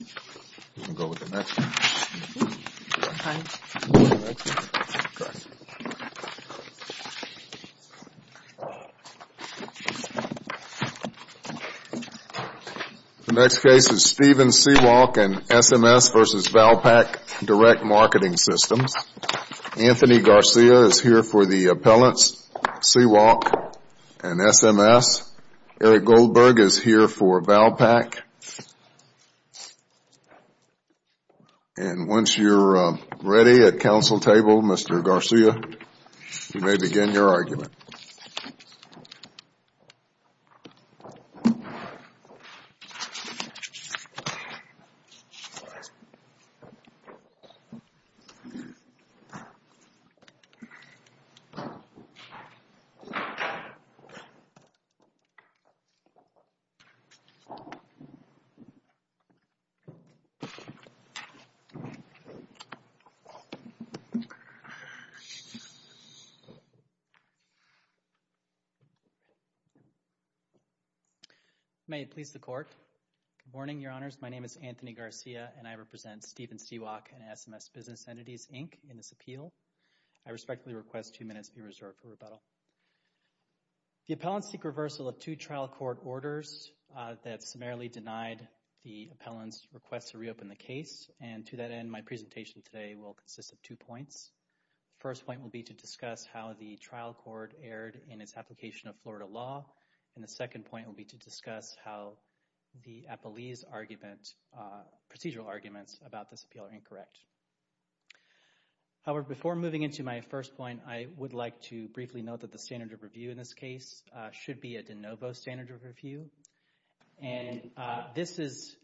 The next case is Stephen Sewalk and SMS v. Valpak Direct Marketing Systems. Anthony Garcia is here for the appellants, Sewalk and SMS. Eric Goldberg is here for Valpak. And once you're ready at council table, Mr. Garcia, you may begin your argument. May it please the court. Good morning, your honors. My name is Anthony Garcia, and I represent Stephen Sewalk and SMS Business Entities Inc. in this appeal. I respectfully request two minutes in reserve for rebuttal. The appellants seek reversal of two trial court orders that summarily denied the appellants request to reopen the case, and to that end, my presentation today will consist of two points. The first point will be to discuss how the trial court erred in its application of Florida law. And the second point will be to discuss how the appellee's argument, procedural arguments about this appeal are incorrect. However, before moving into my first point, I would like to briefly note that the standard of review in this case should be a de novo standard of review, and this is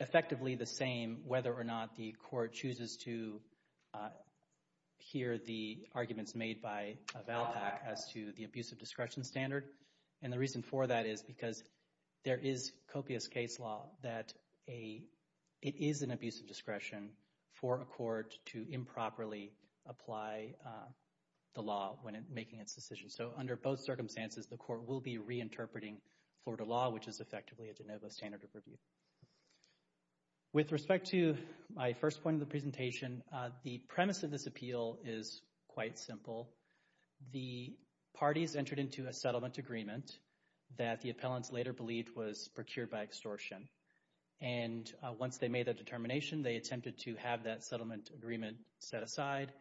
effectively the same whether or not the court chooses to hear the arguments made by Valpak as to the abuse of discretion standard. And the reason for that is because there is copious case law that it is an abuse of discretion for a court to improperly apply the law when making its decision. So under both circumstances, the court will be reinterpreting Florida law, which is effectively a de novo standard of review. With respect to my first point of the presentation, the premise of this appeal is quite simple. The parties entered into a settlement agreement that the appellants later believed was procured by extortion, and once they made that determination, they attempted to have that settlement agreement set aside,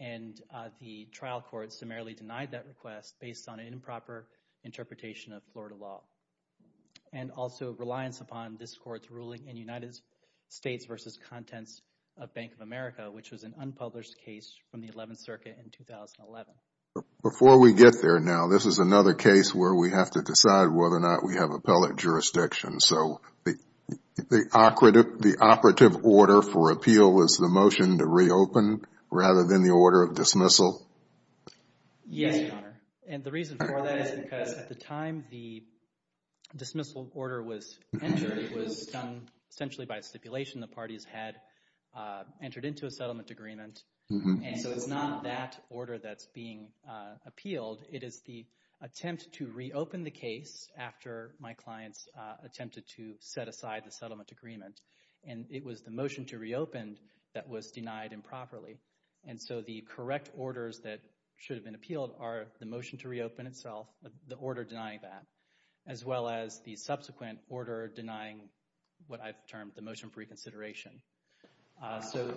and the trial court summarily denied that request based on an improper interpretation of Florida law. And also, reliance upon this court's ruling in United States v. Contents of Bank of America, which was an unpublished case from the 11th Circuit in 2011. Before we get there now, this is another case where we have to decide whether or not we have appellate jurisdiction, so the operative order for appeal is the motion to reopen rather Yes, Your Honor. And the reason for that is because at the time the dismissal order was entered, it was done essentially by stipulation the parties had entered into a settlement agreement, and so it's not that order that's being appealed. It is the attempt to reopen the case after my clients attempted to set aside the settlement agreement, and it was the motion to reopen that was denied improperly. And so the correct orders that should have been appealed are the motion to reopen itself, the order denying that, as well as the subsequent order denying what I've termed the motion for reconsideration. So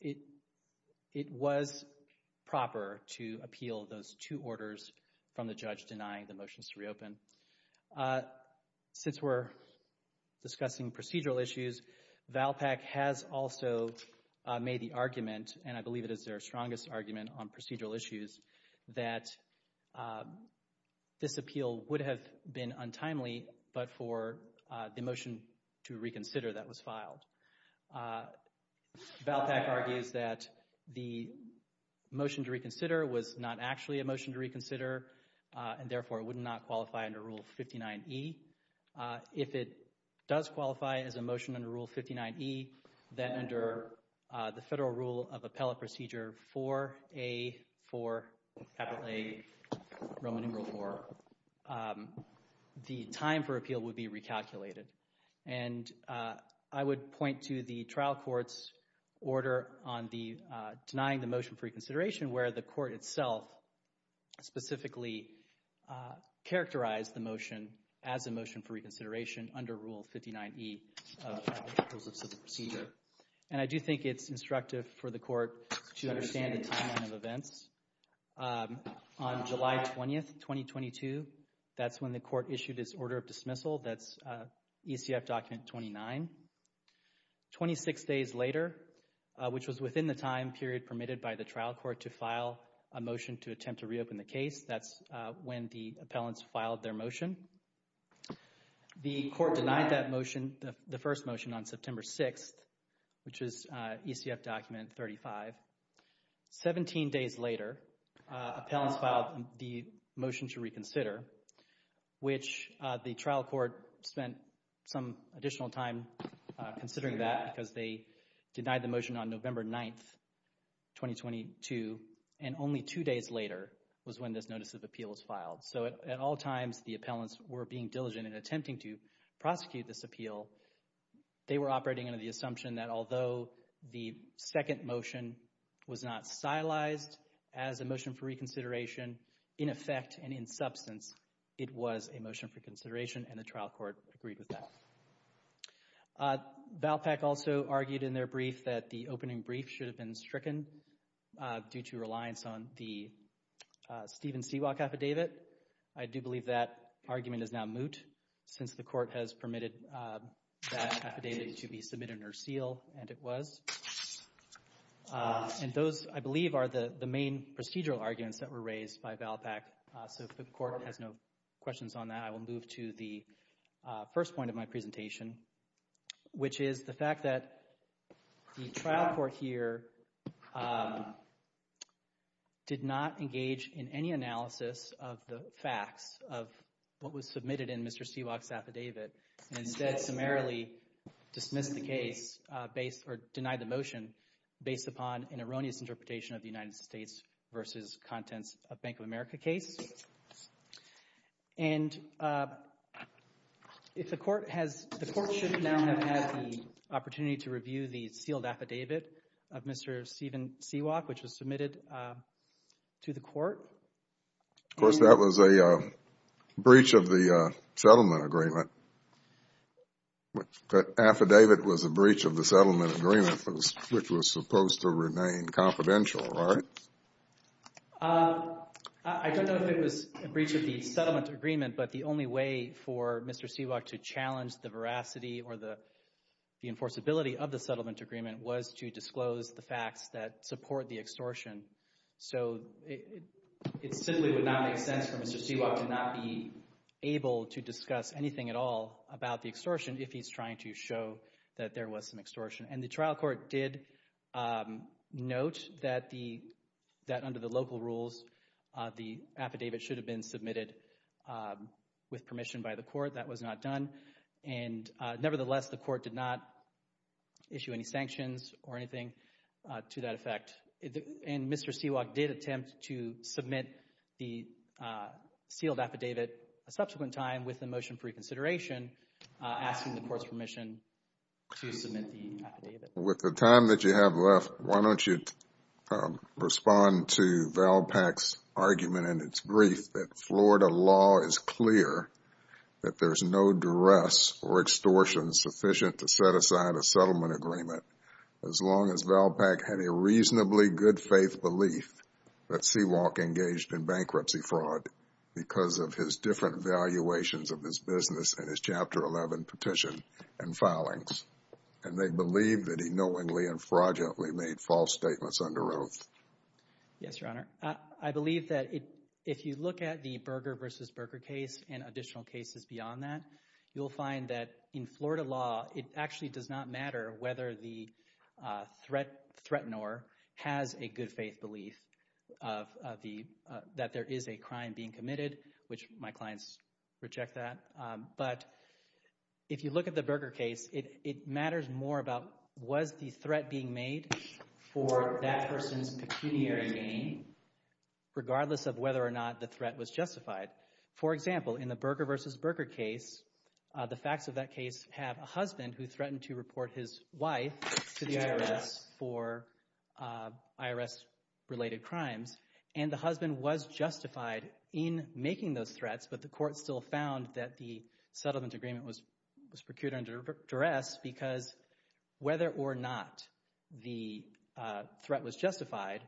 it was proper to appeal those two orders from the judge denying the motions to reopen. Since we're discussing procedural issues, Valpak has also made the argument, and I believe it is their strongest argument on procedural issues, that this appeal would have been untimely but for the motion to reconsider that was filed. Valpak argues that the motion to reconsider was not actually a motion to reconsider and therefore would not qualify under Rule 59E. If it does qualify as a motion under Rule 59E, then under the Federal Rule of Appellate Procedure 4A4, capital A, Roman numeral 4, the time for appeal would be recalculated. And I would point to the trial court's order on the denying the motion for reconsideration where the court itself specifically characterized the motion as a motion for reconsideration under Rule 59E of the Federal Rules of Civil Procedure. And I do think it's instructive for the court to understand the timeline of events. On July 20, 2022, that's when the court issued its order of dismissal, that's ECF Document 29. Twenty-six days later, which was within the time period permitted by the trial court to file a motion to attempt to reopen the case, that's when the appellants filed their motion. The court denied that motion, the first motion, on September 6, which is ECF Document 35. Seventeen days later, appellants filed the motion to reconsider, which the trial court spent some additional time considering that because they denied the motion on November 9, 2022, and only two days later was when this notice of appeal was filed. So at all times, the appellants were being diligent in attempting to prosecute this appeal. They were operating under the assumption that although the second motion was not stylized as a motion for reconsideration, in effect and in substance, it was a motion for consideration and the trial court agreed with that. Valpak also argued in their brief that the opening brief should have been stricken due to reliance on the Stephen Seawalk affidavit. I do believe that argument is now moot since the court has permitted that affidavit to be submitted under seal, and it was. And those, I believe, are the main procedural arguments that were raised by Valpak, so if the court has no questions on that, I will move to the first point of my presentation, which is the fact that the trial court here did not engage in any analysis of the facts of what was submitted in Mr. Seawalk's affidavit, and instead summarily dismissed the case based or denied the motion based upon an erroneous interpretation of the United States versus contents of Bank of America case. And if the court has, the court should now have had the opportunity to review the sealed affidavit of Mr. Stephen Seawalk, which was submitted to the court. Of course, that was a breach of the settlement agreement. That affidavit was a breach of the settlement agreement, which was supposed to remain confidential, right? I don't know if it was a breach of the settlement agreement, but the only way for Mr. Seawalk to challenge the veracity or the enforceability of the settlement agreement was to disclose the facts that support the extortion, so it simply would not make sense for Mr. Seawalk to not be able to discuss anything at all about the extortion if he's trying to show that there was some extortion. And the trial court did note that under the local rules, the affidavit should have been submitted with permission by the court. That was not done, and nevertheless, the court did not issue any sanctions or anything to that effect, and Mr. Seawalk did attempt to submit the sealed affidavit a subsequent time with the motion for reconsideration, asking the court's permission to submit the affidavit. With the time that you have left, why don't you respond to Val Pack's argument and its brief that Florida law is clear that there's no duress or extortion sufficient to set aside a settlement agreement as long as Val Pack had a reasonably good faith belief that Seawalk engaged in bankruptcy fraud because of his different valuations of his business and his Chapter 11 petition and filings, and they believe that he knowingly and fraudulently made false statements under oath? Yes, Your Honor. I believe that if you look at the Berger v. Berger case and additional cases beyond that, you'll find that in Florida law, it actually does not matter whether the threatenor has a good faith belief that there is a crime being committed, which my clients reject that, but if you look at the Berger case, it matters more about was the threat being made for that person's pecuniary gain, regardless of whether or not the threat was justified. For example, in the Berger v. Berger case, the facts of that case have a husband who related crimes, and the husband was justified in making those threats, but the court still found that the settlement agreement was procured under duress because whether or not the threat was justified,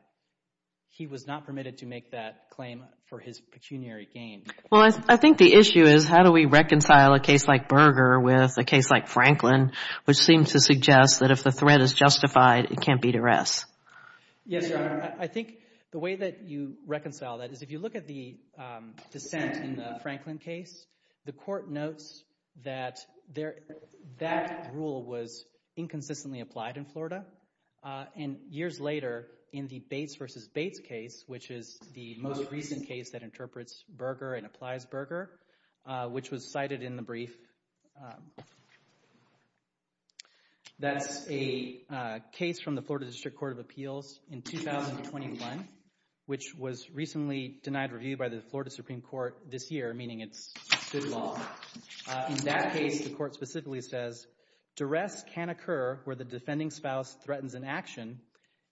he was not permitted to make that claim for his pecuniary gain. Well, I think the issue is how do we reconcile a case like Berger with a case like Franklin, which seems to suggest that if the threat is justified, it can't be duress. Yes, Your Honor. I think the way that you reconcile that is if you look at the dissent in the Franklin case, the court notes that that rule was inconsistently applied in Florida, and years later, in the Bates v. Bates case, which is the most recent case that interprets Berger and applies Berger, which was cited in the brief, um, that's a case from the Florida District Court of Appeals in 2021, which was recently denied review by the Florida Supreme Court this year, meaning it's good law. In that case, the court specifically says, duress can occur where the defending spouse threatens an action,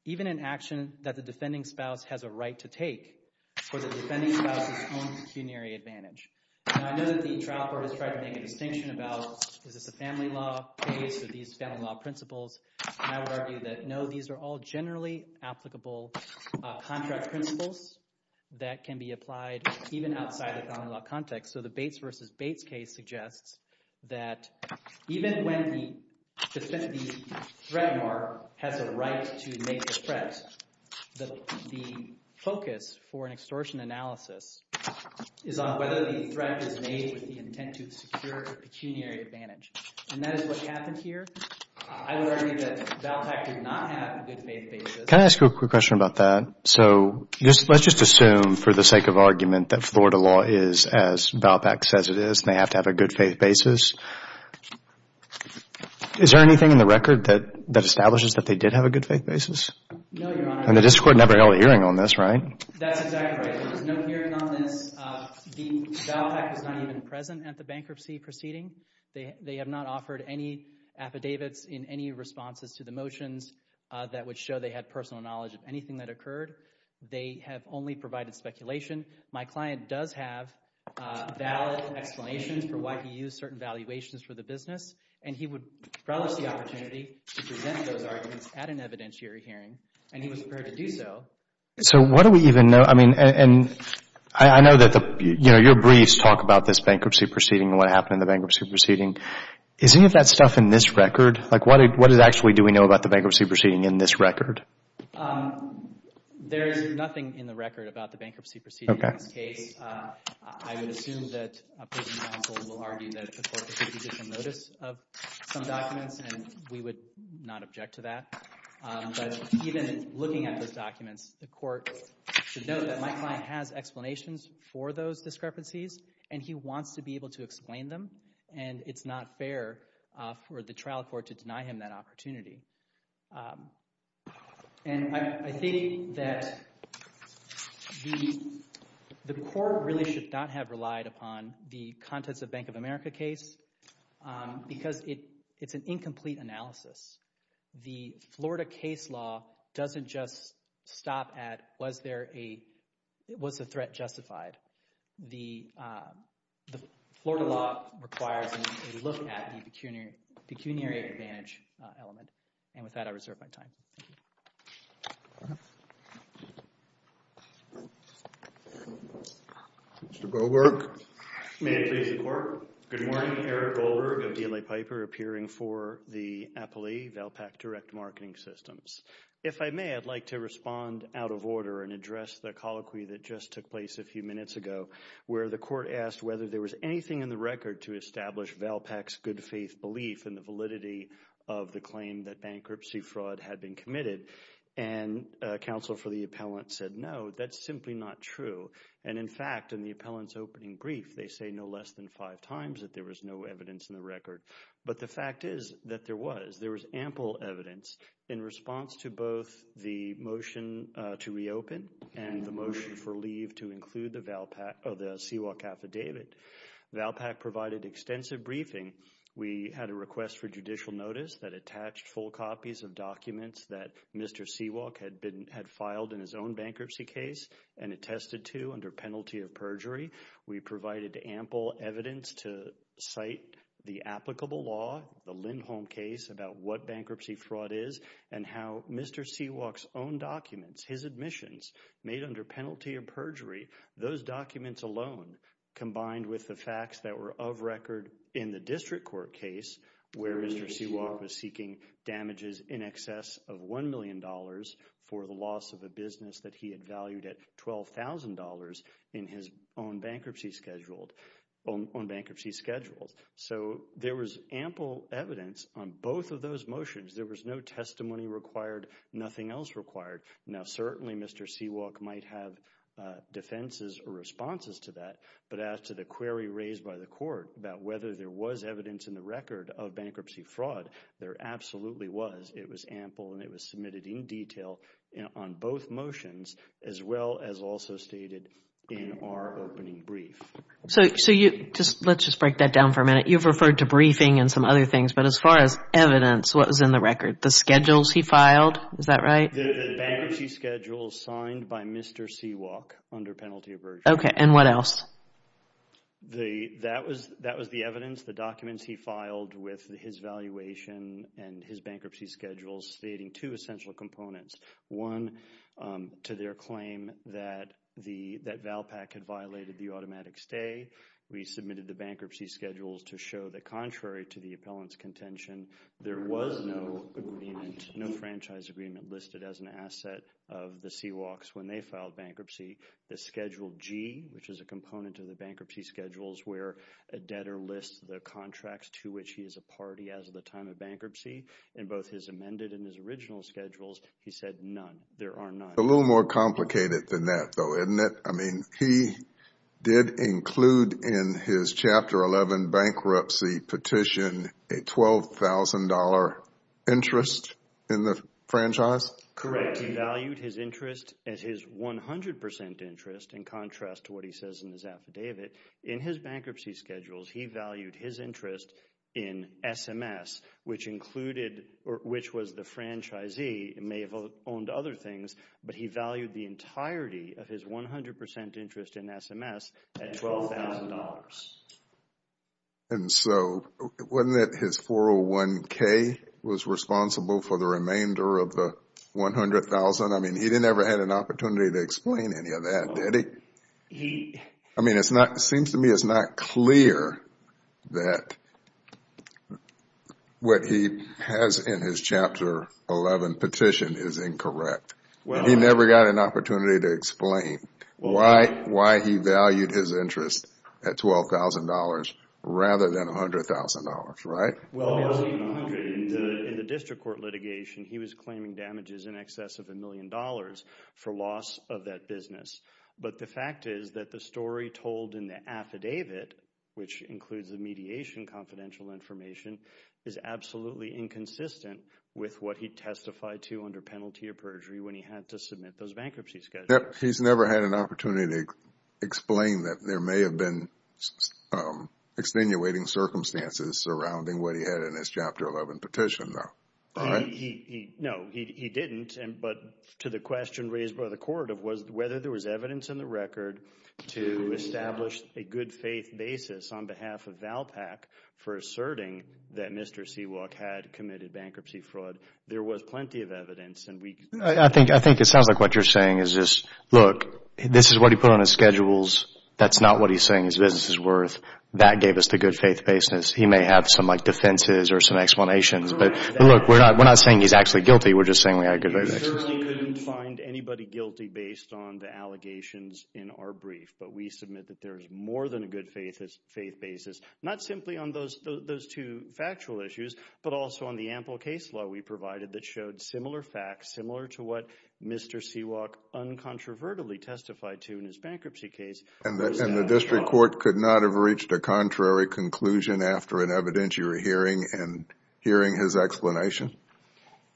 even an action that the defending spouse has a right to take, for the defending spouse's own pecuniary advantage. And I know that the trial court has tried to make a distinction about, is this a family law case or these family law principles? And I would argue that, no, these are all generally applicable contract principles that can be applied even outside the family law context. So the Bates v. Bates case suggests that even when the threat mark has a right to make a threat, that the focus for an extortion analysis is on whether the threat is made with the intent to secure a pecuniary advantage. And that is what happened here. I would argue that Valpak did not have a good faith basis. Can I ask you a quick question about that? So let's just assume, for the sake of argument, that Florida law is as Valpak says it is, and they have to have a good faith basis. Is there anything in the record that establishes that they did have a good faith basis? No, Your Honor. And the district court never held a hearing on this, right? That's exactly right. There was no hearing on this. The Valpak was not even present at the bankruptcy proceeding. They have not offered any affidavits in any responses to the motions that would show they had personal knowledge of anything that occurred. They have only provided speculation. My client does have valid explanations for why he used certain valuations for the business, and he would prolish the opportunity to present those arguments at an evidentiary hearing, and he was prepared to do so. So what do we even know? I mean, and I know that the, you know, your briefs talk about this bankruptcy proceeding and what happened in the bankruptcy proceeding. Is any of that stuff in this record? Like, what is actually, do we know about the bankruptcy proceeding in this record? There is nothing in the record about the bankruptcy proceeding in this case. I would assume that a prison counsel will argue that the court should be given notice of some documents, and we would not object to that. But even looking at those documents, the court should note that my client has explanations for those discrepancies, and he wants to be able to explain them, and it's not fair for the trial court to deny him that opportunity. And I think that the court really should not have relied upon the contents of Bank of America case because it's an incomplete analysis. The Florida case law doesn't just stop at, was there a, was the threat justified? The Florida law requires a look at the pecuniary advantage element. And with that, I reserve my time. Mr. Goldberg. May it please the court. Good morning, Eric Goldberg of DLA Piper, appearing for the appellee, Valpak Direct Marketing Systems. If I may, I'd like to respond out of order and address the colloquy that just took place a few minutes ago, where the court asked whether there was anything in the record to establish Valpak's good faith belief in the validity of the claim that bankruptcy fraud had been committed. And counsel for the appellant said no, that's simply not true. And in fact, in the appellant's opening brief, they say no less than five times that there was no evidence in the record. But the fact is that there was, there was ample evidence in response to both the motion to reopen and the motion for leave to include the Valpak, the CWOC affidavit. Valpak provided extensive briefing. We had a request for judicial notice that attached full copies of documents that Mr. CWOC had filed in his own bankruptcy case and attested to under penalty of perjury. We provided ample evidence to cite the applicable law, the Lindholm case about what bankruptcy fraud is and how Mr. CWOC's own documents, his admissions, made under penalty of perjury. Those documents alone, combined with the facts that were of record in the district court case where Mr. CWOC was seeking damages in excess of $1 million for the loss of a business that he had valued at $12,000 in his own bankruptcy scheduled, on bankruptcy schedules. So there was ample evidence on both of those motions. There was no testimony required, nothing else required. Now, certainly Mr. CWOC might have defenses or responses to that. But as to the query raised by the court about whether there was evidence in the record of bankruptcy fraud, there absolutely was. It was ample and it was submitted in detail on both motions as well as also stated in our opening brief. So let's just break that down for a minute. You've referred to briefing and some other things, but as far as evidence, what was in the record? The schedules he filed, is that right? The bankruptcy schedules signed by Mr. CWOC under penalty of perjury. Okay, and what else? That was the evidence, the documents he filed with his valuation and his bankruptcy schedules stating two essential components. One, to their claim that ValPAC had violated the automatic stay. We submitted the bankruptcy schedules to show that contrary to the appellant's contention, there was no agreement, no franchise agreement listed as an asset of the CWOCs when they filed bankruptcy. The schedule G, which is a component of the bankruptcy schedules where a debtor lists the contracts to which he is a party as of the time of bankruptcy, and both his amended and his original schedules, he said none, there are none. A little more complicated than that though, isn't it? I mean, he did include in his Chapter 11 bankruptcy petition a $12,000 interest in the franchise? Correct, he valued his interest as his 100% interest in contrast to what he says in his affidavit. In his bankruptcy schedules, he valued his interest in SMS, which included, or which was the franchisee, it may have owned other things, but he valued the entirety of his 100% interest in SMS at $12,000. And so, wasn't it his 401k was responsible for the remainder of the $100,000? I mean, he didn't ever had an opportunity to explain any of that, did he? I mean, it's not, it seems to me it's not clear that what he has in his Chapter 11 petition is incorrect. He never got an opportunity to explain why he valued his interest at $12,000 rather than $100,000, right? Well, in the district court litigation, he was claiming damages in excess of a million dollars for loss of that business. But the fact is that the story told in the affidavit, which includes the mediation confidential information, is absolutely inconsistent with what he testified to under penalty of perjury when he had to submit those bankruptcy schedules. He's never had an opportunity to explain that there may have been extenuating circumstances surrounding what he had in his Chapter 11 petition, though. No, he didn't. But to the question raised by the court of whether there was evidence in the record to establish a good faith basis on behalf of Valpak for asserting that Mr. Seawalk had committed bankruptcy fraud, there was plenty of evidence. I think it sounds like what you're saying is just, look, this is what he put on his schedules. That's not what he's saying his business is worth. That gave us the good faith basis. He may have some, like, defenses or some explanations. But look, we're not saying he's actually guilty. We're just saying we had a good faith basis. We couldn't find anybody guilty based on the allegations in our brief. But we submit that there is more than a good faith basis, not simply on those two factual issues, but also on the ample case law we provided that showed similar facts, similar to what Mr. Seawalk uncontrovertedly testified to in his bankruptcy case. And the district court could not have reached a contrary conclusion after an evidence you were hearing and hearing his explanation?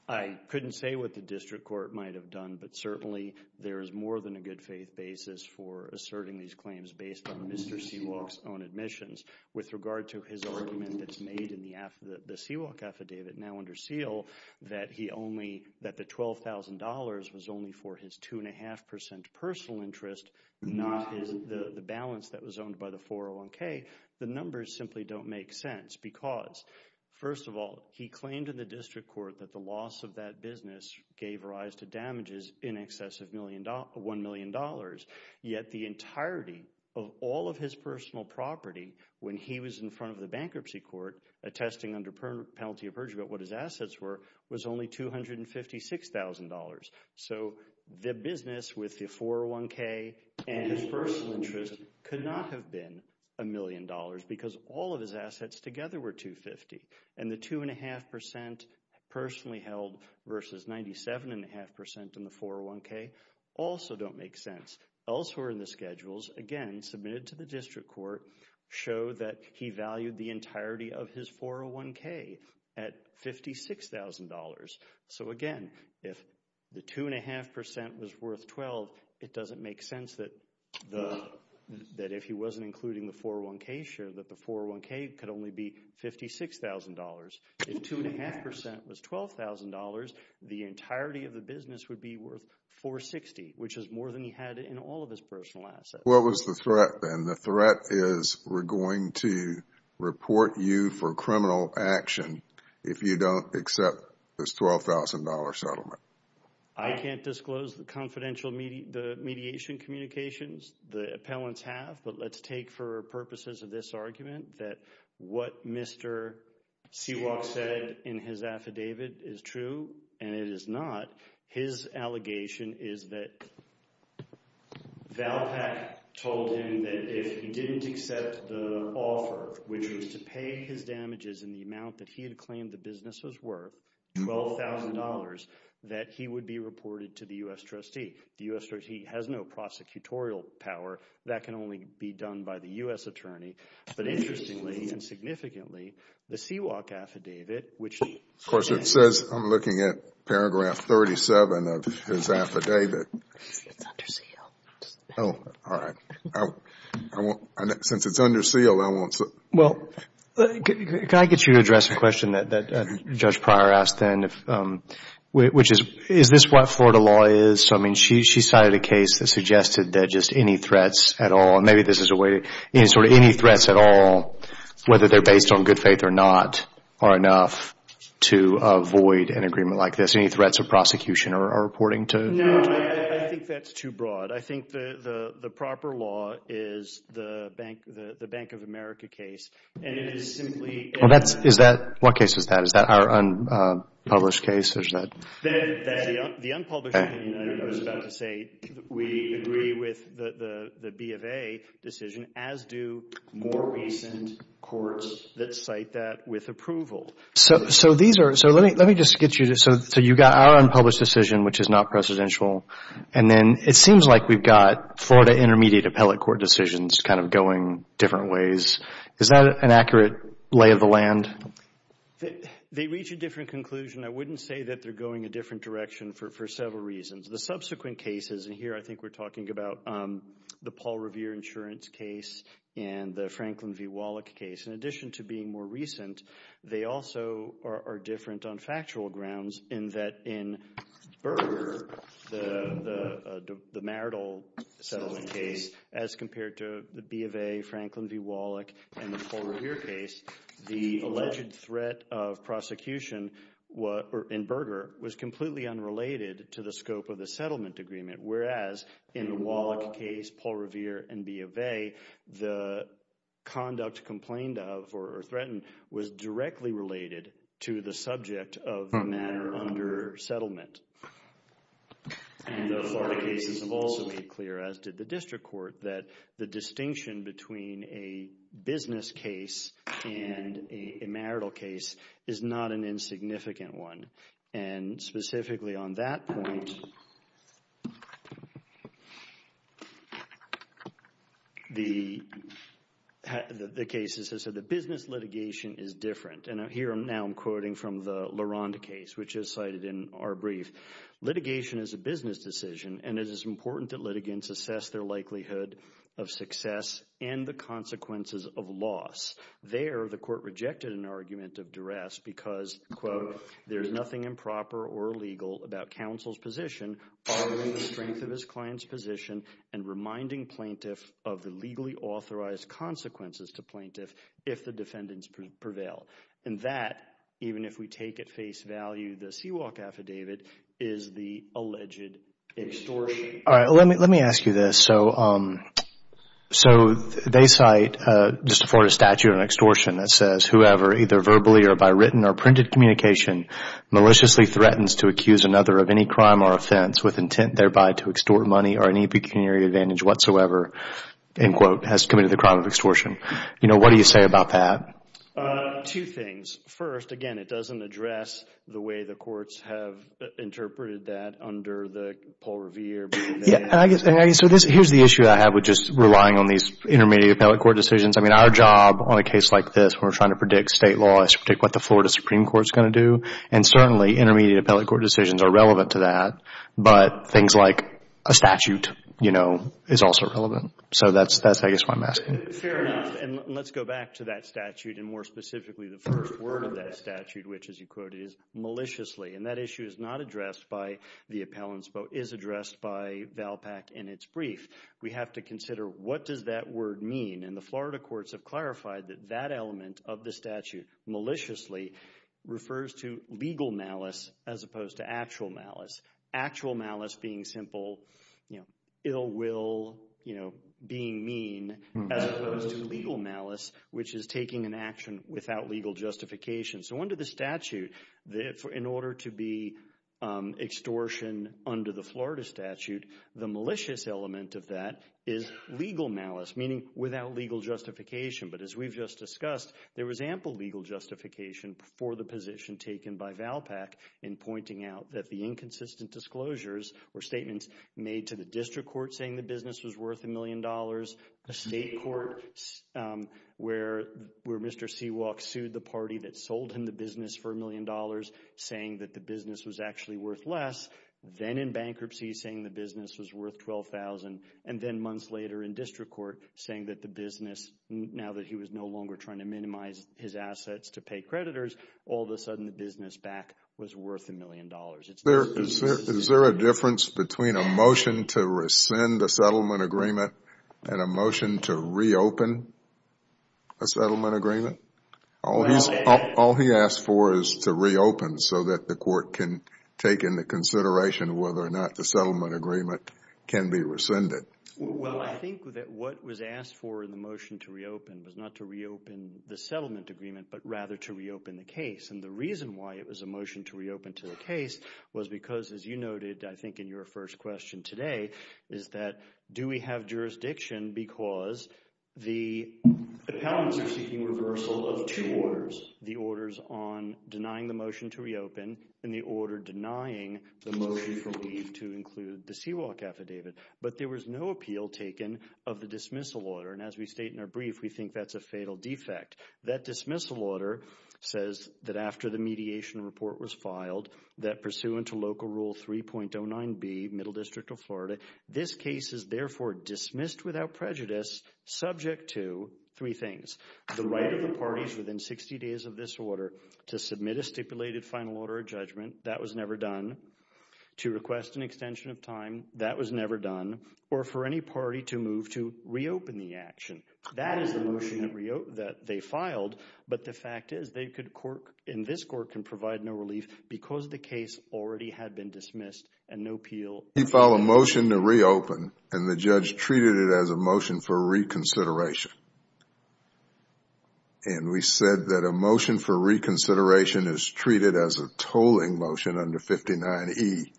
I couldn't say what the district court might have done, but certainly there is more than a good faith basis for asserting these claims based on Mr. Seawalk's own admissions. With regard to his argument that's made in the Seawalk affidavit, now under seal, that the $12,000 was only for his 2.5% personal interest, not the balance that was owned by the 401k, the numbers simply don't make sense. Because, first of all, he claimed in the district court that the loss of that business gave rise to damages in excess of $1 million. Yet the entirety of all of his personal property when he was in front of the bankruptcy court, attesting under penalty of perjury about what his assets were, was only $256,000. So the business with the 401k and his personal interest could not have been a million dollars because all of his assets together were $250,000. And the 2.5% personally held versus 97.5% in the 401k also don't make sense. Elsewhere in the schedules, again, submitted to the district court, show that he valued the entirety of his 401k at $56,000. So again, if the 2.5% was worth $12,000, it doesn't make sense that if he wasn't including the 401k share, that the 401k could only be $56,000. If 2.5% was $12,000, the entirety of the business would be worth $460,000, which is more than he had in all of his personal assets. What was the threat then? The threat is we're going to report you for criminal action if you don't accept this $12,000 settlement. I can't disclose the confidential mediation communications. The appellants have. But let's take for purposes of this argument that what Mr. Seawalk said in his affidavit is true, and it is not. His allegation is that Val Pack told him that if he didn't accept the offer, which was to pay his damages in the amount that he had claimed the businesses were, $12,000, that he would be reported to the U.S. trustee. The U.S. trustee has no prosecutorial power. That can only be done by the U.S. attorney. But interestingly and significantly, the Seawalk affidavit, which... Of course, it says I'm looking at paragraph 37 of his affidavit. It's under seal. Oh, all right. Since it's under seal, I won't... Well, can I get you to address a question that Judge Pryor asked then, which is, is this what Florida law is? I mean, she cited a case that suggested that just any threats at all, maybe this is a way in sort of any threats at all, whether they're based on good faith or not, are enough to avoid an agreement like this. Any threats of prosecution or reporting to... No, I think that's too broad. I think the proper law is the Bank of America case, and it is simply... Well, that's... Is that... What case is that? Is that our unpublished case or is that... The unpublished opinion, I was about to say, we agree with the B of A decision, as do more recent courts that cite that with approval. So these are... So let me just get you to... So you got our unpublished decision, which is not precedential, and then it seems like we've got Florida intermediate appellate court decisions kind of going different ways. Is that an accurate lay of the land? They reach a different conclusion. I wouldn't say that they're going a different direction for several reasons. The subsequent cases, and here I think we're talking about the Paul Revere insurance case and the Franklin v. Wallach case, in addition to being more recent, they also are different on factual grounds in that in Berger, the marital settlement case, as compared to the B of A, Franklin v. Wallach, and the Paul Revere case, the alleged threat of prosecution in Berger was completely unrelated to the scope of the settlement agreement, whereas in the Wallach case, Paul Revere, and B of A, the conduct complained of or threatened was directly related to the subject of the matter under settlement. And the Florida cases have also made clear, as did the district court, that the distinction between a business case and a marital case is not an insignificant one. And specifically on that point, the cases have said the business litigation is different. And here now I'm quoting from the LaRonde case, which is cited in our brief. Litigation is a business decision, and it is important that litigants assess their likelihood of success and the consequences of loss. There, the court rejected an argument of duress because, quote, there's nothing improper or illegal about counsel's position following the strength of his client's position and reminding plaintiff of the legally authorized consequences to plaintiff if the defendants prevail. And that, even if we take at face value the Seawalk affidavit, is the alleged extortion. All right, let me ask you this. So they cite, just to Florida statute, an extortion that says, whoever either verbally or by written or printed communication maliciously threatens to accuse another of any crime or offense with intent thereby to extort money or any pecuniary advantage whatsoever, end quote, has committed the crime of extortion. You know, what do you say about that? Two things. First, again, it doesn't address the way the courts have interpreted that under the Paul Revere. Yeah, so here's the issue I have with just relying on these intermediate appellate court decisions. I mean, our job on a case like this when we're trying to predict state law is to predict what the Florida Supreme Court is going to do. And certainly, intermediate appellate court decisions are relevant to that. But things like a statute, you know, is also relevant. So that's, I guess, what I'm asking. Fair enough. And let's go back to that statute and, more specifically, the first word of that statute, which, as you quoted, is maliciously. And that issue is not addressed by the appellants, but is addressed by Valpact in its brief. We have to consider what does that word mean? And the Florida courts have clarified that that element of the statute, maliciously, refers to legal malice as opposed to actual malice. Actual malice being simple, you know, ill will, you know, being mean, as opposed to legal malice, which is taking an action without legal justification. So under the statute, in order to be extortion under the Florida statute, the malicious element of that is legal malice, meaning without legal justification. But as we've just discussed, there was ample legal justification for the position taken by Valpact in pointing out that the inconsistent disclosures or statements made to the district court saying the business was worth a million dollars, a state court where Mr. Seawalk sued the party that sold him the business for a million dollars, saying that the business was actually worth less, then in bankruptcy, saying the business was worth $12,000, and then months later in district court, saying that the business, now that he was no longer trying to minimize his assets to pay creditors, all of a sudden the business back was worth a million dollars. Is there a difference between a motion to rescind a settlement agreement and a motion to reopen a settlement agreement? All he asked for is to reopen so that the court can take into consideration whether or not the settlement agreement can be rescinded. Well, I think that what was asked for in the motion to reopen was not to reopen the settlement agreement, but rather to reopen the case. And the reason why it was a motion to reopen to the case was because, as you noted, I think in your first question today, is that do we have jurisdiction because the appellants are seeking reversal of two orders, the orders on denying the motion to reopen and the order denying the motion for leave to include the Seawalk affidavit. But there was no appeal taken of the dismissal order. And as we state in our brief, we think that's a fatal defect. That dismissal order says that after the mediation report was filed, that pursuant to Local Rule 3.09B, Middle District of Florida, this case is therefore dismissed without prejudice, subject to three things. The right of the parties within 60 days of this order to submit a stipulated final order of judgment. That was never done. To request an extension of time. That was never done. Or for any party to move to reopen the action. That is the motion that they filed. But the fact is they could court, in this court, can provide no relief because the case already had been dismissed and no appeal. He filed a motion to reopen and the judge treated it as a motion for reconsideration. And we said that a motion for reconsideration is treated as a tolling motion under 59E.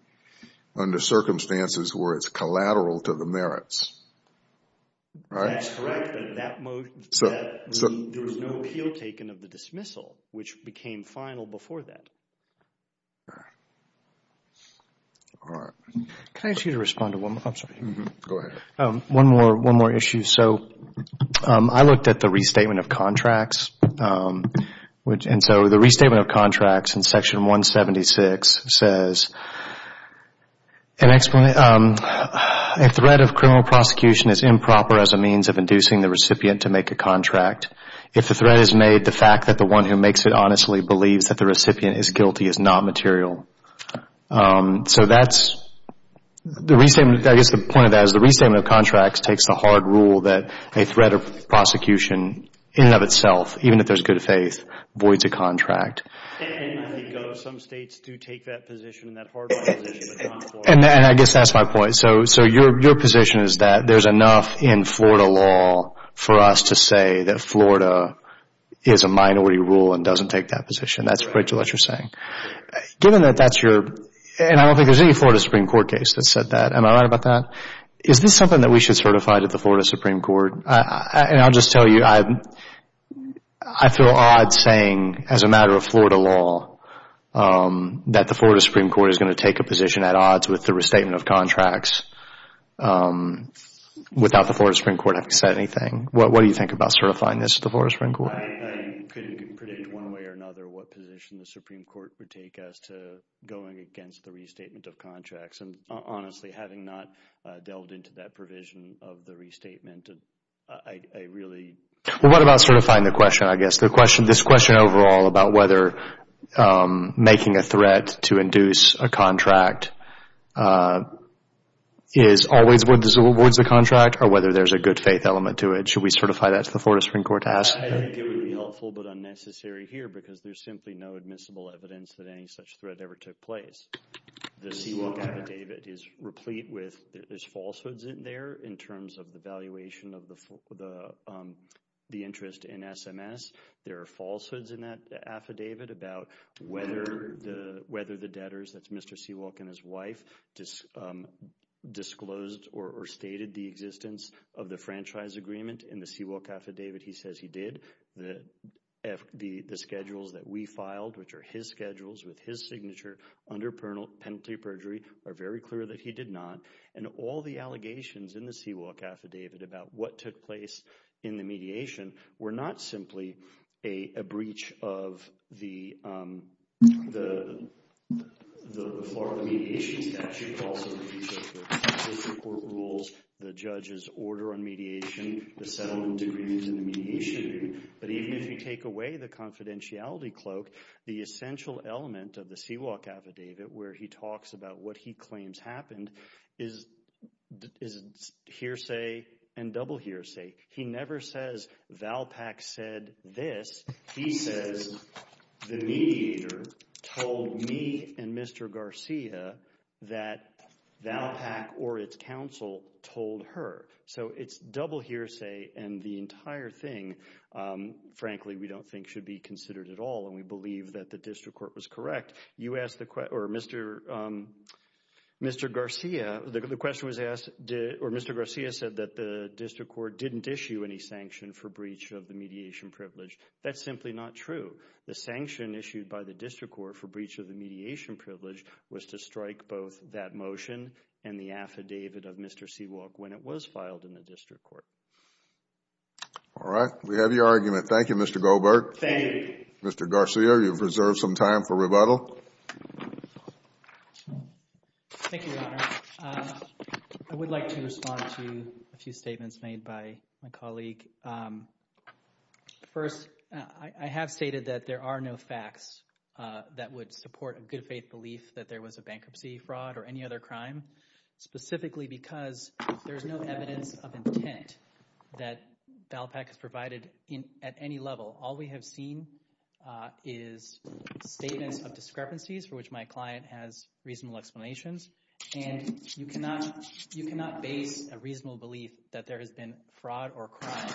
Under circumstances where it's collateral to the merits. That's correct. There was no appeal taken of the dismissal, which became final before that. All right. Can I ask you to respond to one more? I'm sorry. Go ahead. One more issue. So I looked at the restatement of contracts. And so the restatement of contracts in Section 176 says an explain... A threat of criminal prosecution is improper as a means of inducing the recipient to make a contract. If the threat is made, the fact that the one who makes it honestly believes that the recipient is guilty is not material. So that's... I guess the point of that is the restatement of contracts takes the hard rule that a threat of prosecution in and of itself, even if there's good faith, voids a contract. And I think some states do take that position and that hard rule. And I guess that's my point. So your position is that there's enough in Florida law for us to say that Florida is a minority rule and doesn't take that position. That's pretty much what you're saying. Given that that's your... And I don't think there's any Florida Supreme Court case that said that. Am I right about that? Is this something that we should certify to the Florida Supreme Court? And I'll just tell you, I feel odd saying as a matter of Florida law that the Florida Supreme Court is going to take a position at odds with the restatement of contracts without the Florida Supreme Court having said anything. What do you think about certifying this to the Florida Supreme Court? I couldn't predict one way or another what position the Supreme Court would take as to going against the restatement of contracts. And honestly, having not delved into that provision of the restatement, I really... Well, what about certifying the question, I guess? The question, this question overall about whether making a threat to induce a contract is always what awards the contract or whether there's a good faith element to it. Should we certify that to the Florida Supreme Court to ask? I think it would be helpful but unnecessary here because there's simply no admissible evidence that any such threat ever took place. The Seawolf Affidavit is replete with... There's falsehoods in there in terms of the valuation of the interest in SMS. There are falsehoods in that affidavit about whether the debtors, that's Mr. Seawolf and his wife, disclosed or stated the existence of the franchise agreement in the Seawolf Affidavit. He says he did. The schedules that we filed, which are his schedules with his signature under penalty perjury are very clear that he did not. And all the allegations in the Seawolf Affidavit about what took place in the mediation were not simply a breach of the Florida Mediation Statute clause of the Supreme Court rules, the judge's order on mediation, the settlement agreements and the mediation agreement. But even if you take away the confidentiality cloak, the essential element of the Seawolf Affidavit where he talks about what he claims happened is hearsay and double hearsay. He never says Valpak said this. He says, the mediator told me and Mr. Garcia that Valpak or its counsel told her. So it's double hearsay and the entire thing, frankly, we don't think should be considered at all. And we believe that the district court was correct. You asked the question, or Mr. Garcia, the question was asked, or Mr. Garcia said that the district court didn't issue any sanction for breach of the mediation privilege. That's simply not true. The sanction issued by the district court for breach of the mediation privilege was to strike both that motion and the affidavit of Mr. Seawolf when it was filed in the district court. All right, we have your argument. Thank you, Mr. Goldberg. Thank you. Mr. Garcia, you've reserved some time for rebuttal. Thank you, Your Honor. I would like to respond to a few statements made by my colleague. First, I have stated that there are no facts that would support a good faith belief that there was a bankruptcy fraud or any other crime, specifically because there is no evidence of intent that ValPAC has provided at any level. All we have seen is statements of discrepancies for which my client has reasonable explanations. And you cannot base a reasonable belief that there has been fraud or crime.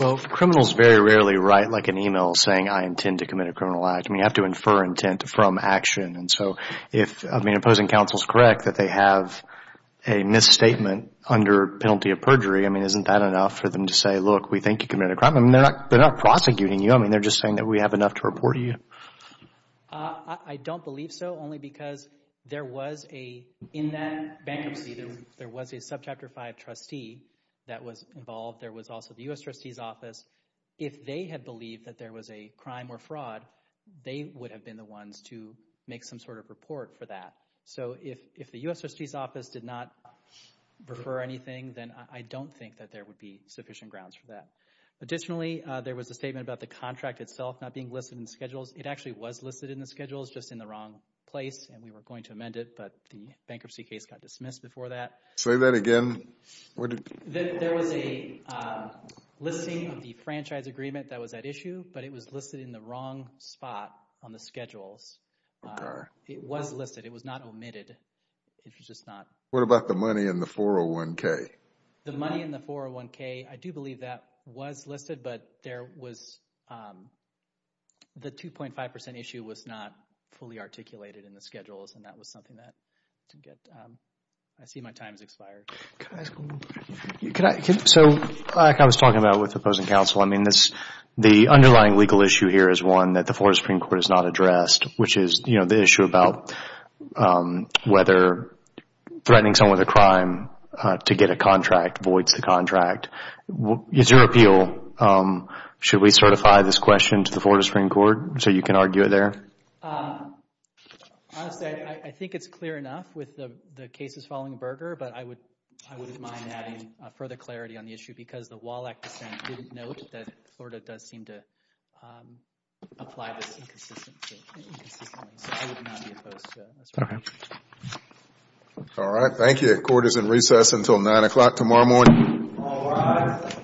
Well, criminals very rarely write like an email saying I intend to commit a criminal act. I mean, you have to infer intent from action. And so if, I mean, opposing counsel is correct that they have a misstatement under penalty of perjury. I mean, isn't that enough for them to say, look, we think you committed a crime? I mean, they're not, they're not prosecuting you. I mean, they're just saying that we have enough to report you. I don't believe so, only because there was a, in that bankruptcy, there was a subchapter five trustee that was involved. There was also the U.S. trustee's office. If they had believed that there was a crime or fraud, they would have been the ones to make some sort of report for that. So if the U.S. trustee's office did not refer anything, then I don't think that there would be sufficient grounds for that. Additionally, there was a statement about the contract itself not being listed in schedules. It actually was listed in the schedules, just in the wrong place. And we were going to amend it, but the bankruptcy case got dismissed before that. Say that again. There was a listing of the franchise agreement that was at issue, but it was listed in the wrong spot on the schedules. It was listed. It was not omitted. It was just not. What about the money in the 401k? The money in the 401k, I do believe that was listed, but there was, the 2.5% issue was not fully articulated in the schedules. And that was something that didn't get, I see my time has expired. So, like I was talking about with opposing counsel, I mean, the underlying legal issue here is one that the Florida Supreme Court has not addressed, which is, you know, the issue about whether threatening someone with a crime to get a contract voids the contract. Is your appeal, should we certify this question to the Florida Supreme Court so you can argue it there? Honestly, I think it's clear enough with the cases following Berger, but I wouldn't mind adding further clarity on the issue because the Wallach dissent didn't note that Florida does seem to apply this inconsistency, inconsistently. So I would not be opposed to that. Okay. All right. Thank you. The court is in recess until nine o'clock tomorrow morning. All rise.